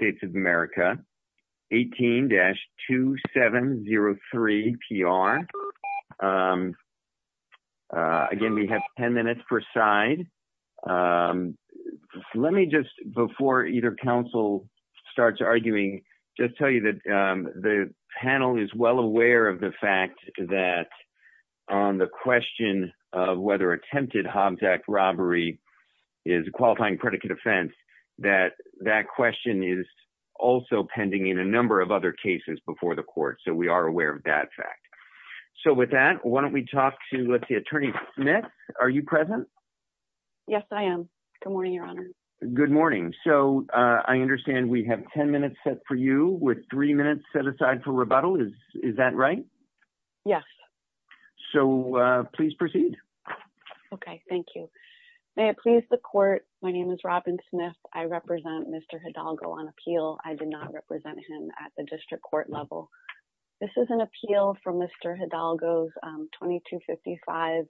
of America, 18-2703PR. Again, we have 10 minutes per side. Let me just, before either council starts arguing, just tell you that the panel is well aware of the fact that on the question of whether attempted Hobbs Act robbery is a qualifying predicate offense, that that question is also pending in a number of other cases before the court. So we are aware of that fact. So with that, why don't we talk to, let's see, Attorney Smith, are you present? Yes, I am. Good morning, Your Honor. Good morning. So I understand we have 10 minutes set for you, with three minutes set aside for rebuttal. Is that right? Yes. So please proceed. Okay, thank you. May it please the court, my name is Robin Smith. I represent Mr. Hidalgo on appeal. I did not represent him at the district court level. This is an appeal from Mr. Hidalgo's 2255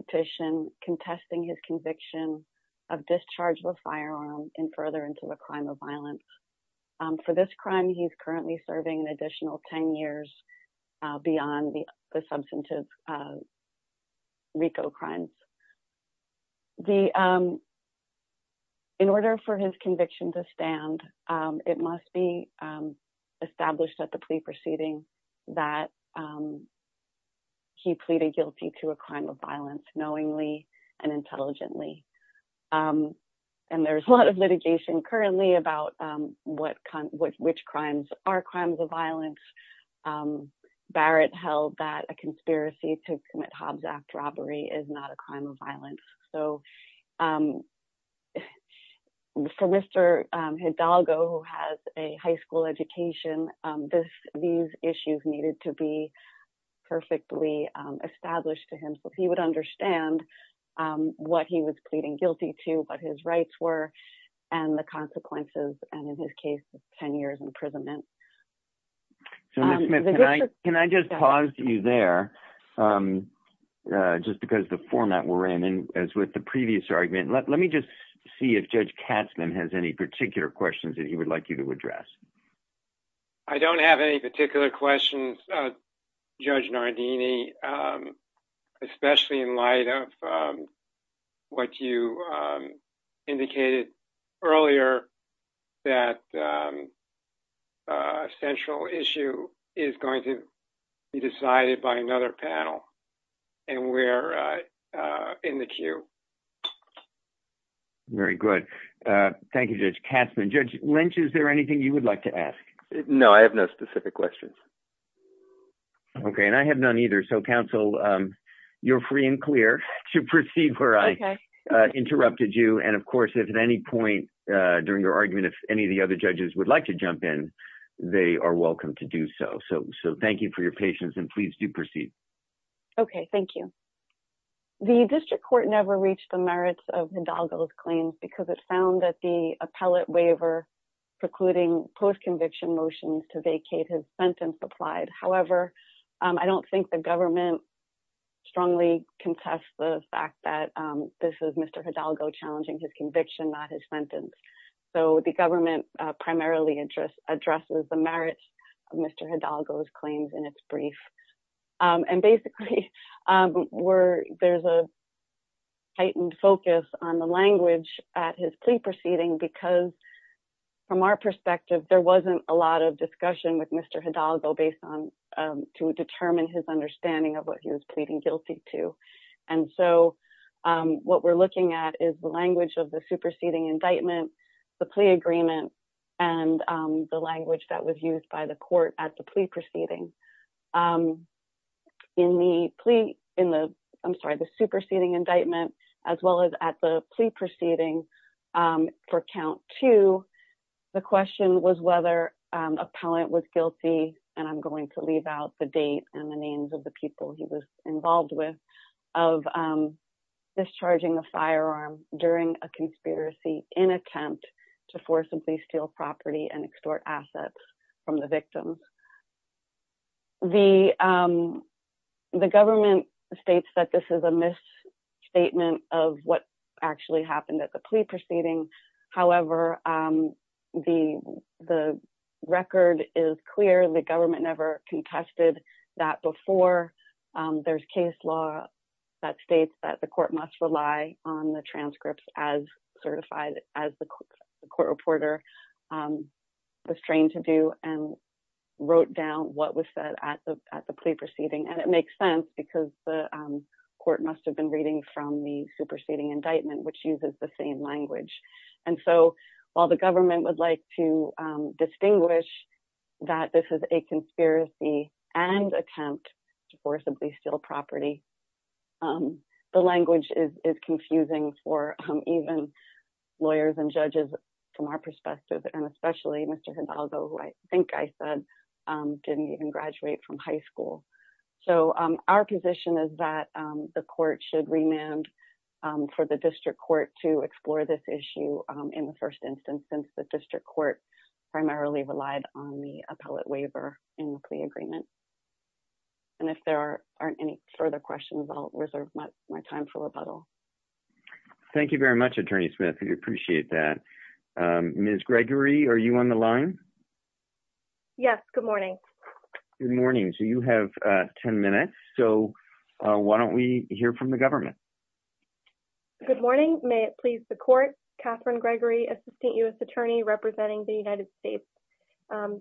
petition contesting his conviction of discharge of a firearm and further into a crime of violence. For this crime, he's currently serving an additional 10 years beyond the substantive RICO crimes. In order for his conviction to stand, it must be established at the plea proceeding that he pleaded guilty to a crime of violence knowingly and intelligently. And there's a lot of litigation currently about which crimes are crimes of Barrett held that a conspiracy to commit Hobbs Act robbery is not a crime of violence. So for Mr. Hidalgo, who has a high school education, these issues needed to be perfectly established to him so he would understand what he was pleading guilty to, what his rights were, and the consequences, and in his case, 10 years imprisonment. So can I just pause you there? Just because the format we're in as with the previous argument, let me just see if Judge Katzmann has any particular questions that he would like you to address. I don't have any particular questions, Judge Nardini, especially in light of what you indicated earlier that a central issue is going to be decided by another panel, and we're in the queue. Very good. Thank you, Judge Katzmann. Judge Lynch, is there anything you would like to ask? No, I have no specific questions. Okay. And I have none either. So counsel, you're free and clear to proceed where I interrupted you. And of course, if at any point during your argument, if any of the other judges would like to jump in, they are welcome to do so. So thank you for your patience and please do proceed. Okay, thank you. The district court never reached the merits of Hidalgo's claims because it found that the appellate waiver precluding post-conviction motions to vacate his sentence applied. However, I don't think the government strongly contests the fact that this is Mr. Hidalgo challenging his conviction, not his sentence. So the government primarily addresses the merits of Mr. Hidalgo's claims in its brief. And basically, there's a heightened focus on the language at his plea proceeding because from our perspective, there wasn't a lot of discussion with Mr. Hidalgo based on, to determine his understanding of what he was What we're looking at is the language of the superseding indictment, the plea agreement, and the language that was used by the court at the plea proceeding. In the plea, in the, I'm sorry, the superseding indictment, as well as at the plea proceeding for count two, the question was whether appellant was guilty. And I'm going to leave out the date and the names of the people he was involved with of discharging a firearm during a conspiracy in attempt to forcibly steal property and extort assets from the victims. The government states that this is a misstatement of what actually happened at the plea proceeding. However, the record is clear. The government never contested that before. There's case law that states that the court must rely on the transcripts as certified as the court reporter was trained to do and wrote down what was said at the plea proceeding. And it makes sense because the court must have been reading from the superseding indictment, which uses the same language. And so while the government would like to distinguish that this is a conspiracy and attempt to forcibly steal property, the language is confusing for even lawyers and judges from our perspective, and especially Mr. Hidalgo, who I think I said didn't even graduate from high school. So our position is that the court should remand for the district court to explore this issue in the first instance, since the district court primarily relied on the appellate waiver in the plea agreement. And if there aren't any further questions, I'll reserve my time for rebuttal. Thank you very much, Attorney Smith. We appreciate that. Ms. Gregory, are you on the line? Yes, good morning. Good morning. So you have 10 minutes. So why don't we hear from the government? Good morning. May it please the court. Catherine Gregory, Assistant U.S. Attorney representing the United States.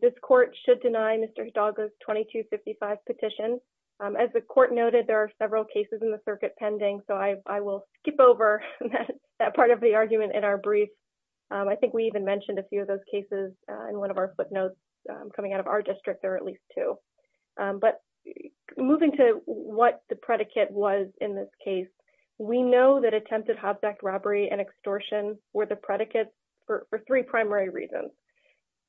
This court should deny Mr. Hidalgo's 2255 petition. As the court noted, there are several cases in the circuit pending, so I will skip over that part of the argument in our brief. I think we even mentioned a few of those cases in one of our footnotes coming out of our district, or at least two. But moving to what the predicate was in this case, we know that attempted hobject robbery and extortion were the predicates for three primary reasons.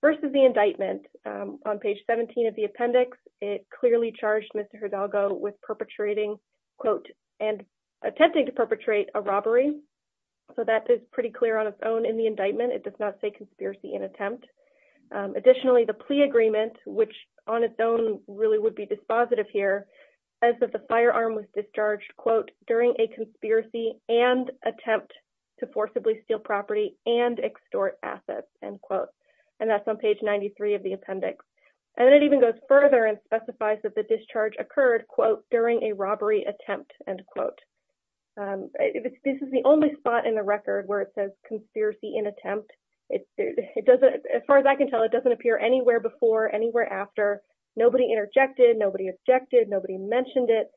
First is the indictment. On page 17 of the appendix, it clearly charged Mr. Hidalgo with perpetrating, quote, and attempting to perpetrate a robbery. So that is pretty clear on its own in the indictment. It does not say attempt. Additionally, the plea agreement, which on its own really would be dispositive here, as of the firearm was discharged, quote, during a conspiracy and attempt to forcibly steal property and extort assets, end quote. And that's on page 93 of the appendix. And it even goes further and specifies that the discharge occurred, quote, during a robbery attempt, end quote. This is only spot in the record where it says conspiracy and attempt. As far as I can tell, it doesn't appear anywhere before, anywhere after. Nobody interjected, nobody objected, nobody mentioned it.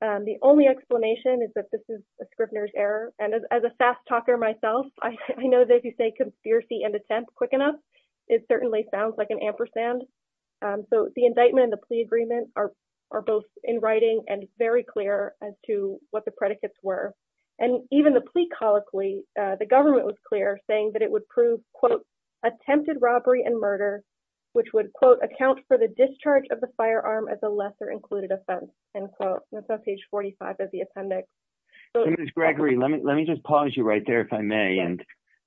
The only explanation is that this is a Scrivener's error. And as a fast talker myself, I know that if you say conspiracy and attempt quick enough, it certainly sounds like an ampersand. So the indictment and the plea agreement are both in writing and very clear as to what the colloquy, the government was clear saying that it would prove, quote, attempted robbery and murder, which would quote, account for the discharge of the firearm as a lesser included offense, end quote. That's on page 45 of the appendix. Senator Gregory, let me just pause you right there, if I may. And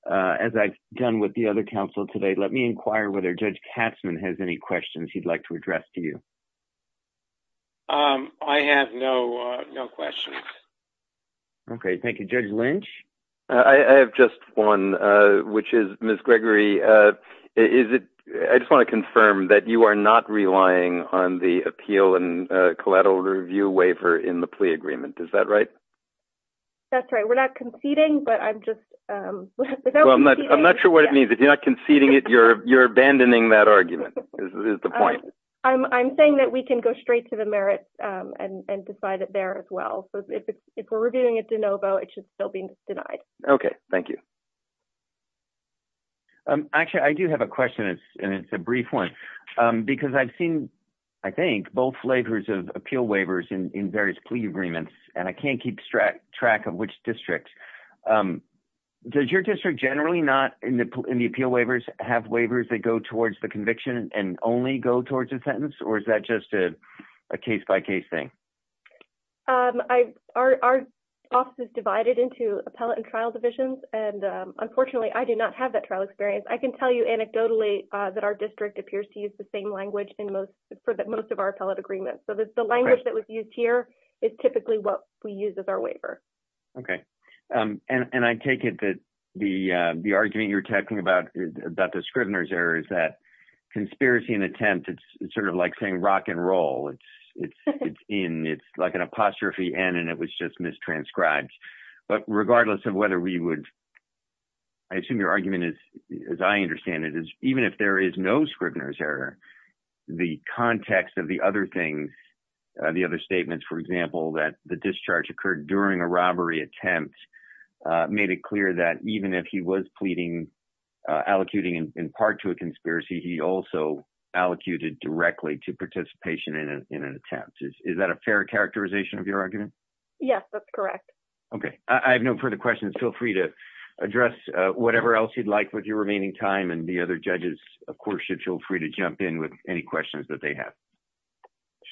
as I've done with the other counsel today, let me inquire whether Judge Katzmann has any questions he'd like to address to you. I have no questions. Okay. Thank you, Judge Lynch. I have just one, which is Ms. Gregory, is it, I just want to confirm that you are not relying on the appeal and collateral review waiver in the plea agreement. Is that right? That's right. We're not conceding, but I'm just... I'm not sure what it means. If you're not conceding it, you're abandoning that argument, is the point. I'm saying that we can go straight to the merits and decide it there as well. So if we're reviewing it de novo, it should still be denied. Okay. Thank you. Actually, I do have a question and it's a brief one, because I've seen, I think, both flavors of appeal waivers in various plea agreements, and I can't keep track of which district. Does your district generally not, in the appeal waivers, have waivers that go towards the conviction and only go towards a sentence, or is that just a case-by-case thing? Our office is divided into appellate and trial divisions, and unfortunately, I do not have that trial experience. I can tell you anecdotally that our district appears to use the same language for most of our appellate agreements. So the language that was used here is typically what we use as our waiver. Okay. And I take it that the argument you're talking about, about the Scrivener's error, is that conspiracy and attempt, it's sort of like saying rock and roll. It's in, it's like an apostrophe and, and it was just mistranscribed. But regardless of whether we would, I assume your argument is, as I understand it, is even if there is no Scrivener's error, the context of the other things, the other statements, for example, that the discharge occurred during a robbery attempt made it clear that even if he was pleading, allocuting in part to a conspiracy, he also allocated directly to participation in an attempt. Is that a fair characterization of your argument? Yes, that's correct. Okay. I have no further questions. Feel free to address whatever else you'd like with your remaining time and the other judges, of course, should feel free to jump in with any questions that they have.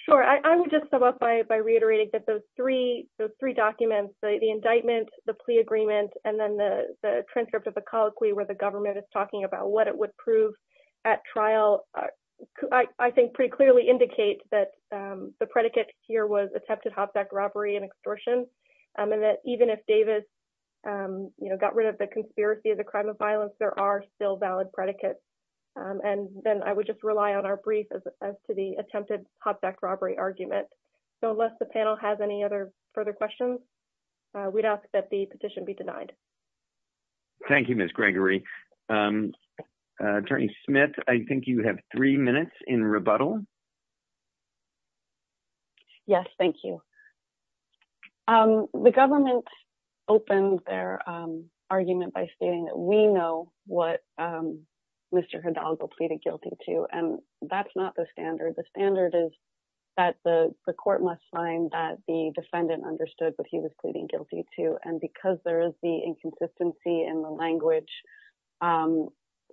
Sure. I would just sum up by reiterating that those three, those three documents, the indictment, the plea agreement, and then the transcript of the colloquy where the government is talking about what it would prove at trial, I think pretty clearly indicate that the predicate here was attempted hop-sack robbery and extortion. And that even if Davis, you know, got rid of the conspiracy of the crime of violence, there are still valid predicates. And then I would just rely on our brief as to the attempted hop-sack argument. So unless the panel has any other further questions, we'd ask that the petition be denied. Thank you, Ms. Gregory. Attorney Smith, I think you have three minutes in rebuttal. Yes, thank you. The government opened their argument by stating that we know what Mr. Hidalgo pleaded guilty to. And that's not the standard. The standard is that the court must find that the defendant understood what he was pleading guilty to. And because there is the inconsistency in the language,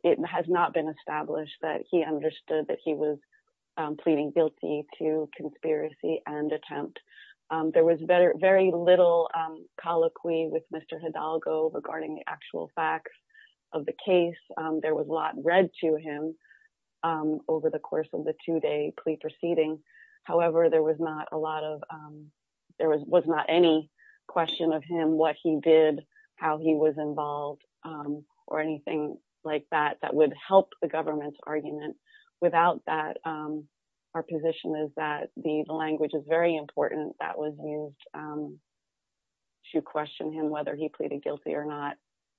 it has not been established that he understood that he was pleading guilty to conspiracy and attempt. There was very little colloquy with Mr. Hidalgo regarding the actual facts of the case. There was a lot read to him over the course of the two-day plea proceeding. However, there was not a lot of, there was not any question of him, what he did, how he was involved, or anything like that that would help the government's argument. Without that, our position is that the language is very important that was used to question him whether he pleaded guilty or not.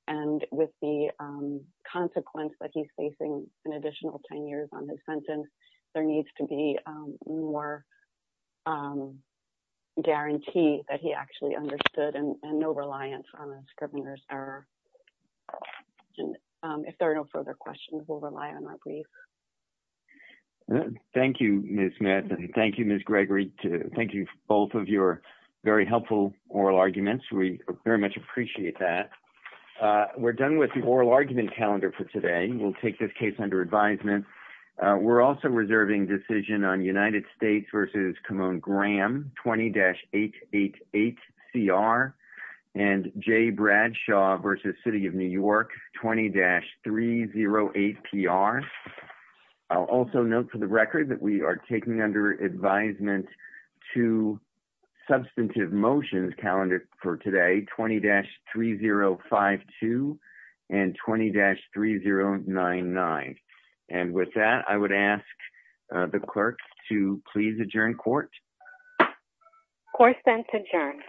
And with the consequence that he's facing an additional 10 years on his sentence, there needs to be more guarantee that he actually understood and no reliance on a scrivener's error. And if there are no further questions, we'll rely on that brief. Thank you, Ms. Smith. Thank you, Ms. Gregory. Thank you, both of your very helpful oral arguments. We very much appreciate that. We're done with the oral argument calendar for today. We'll take this case under advisement. We're also reserving decision on United States v. Khamon Graham, 20-888CR, and J. Bradshaw v. City of New York, 20-308PR. I'll also note for the record that we are taking under advisement two substantive motions calendar for today, 20-3052 and 20-3099. And with that, I would ask the clerk to please adjourn court. Court is adjourned.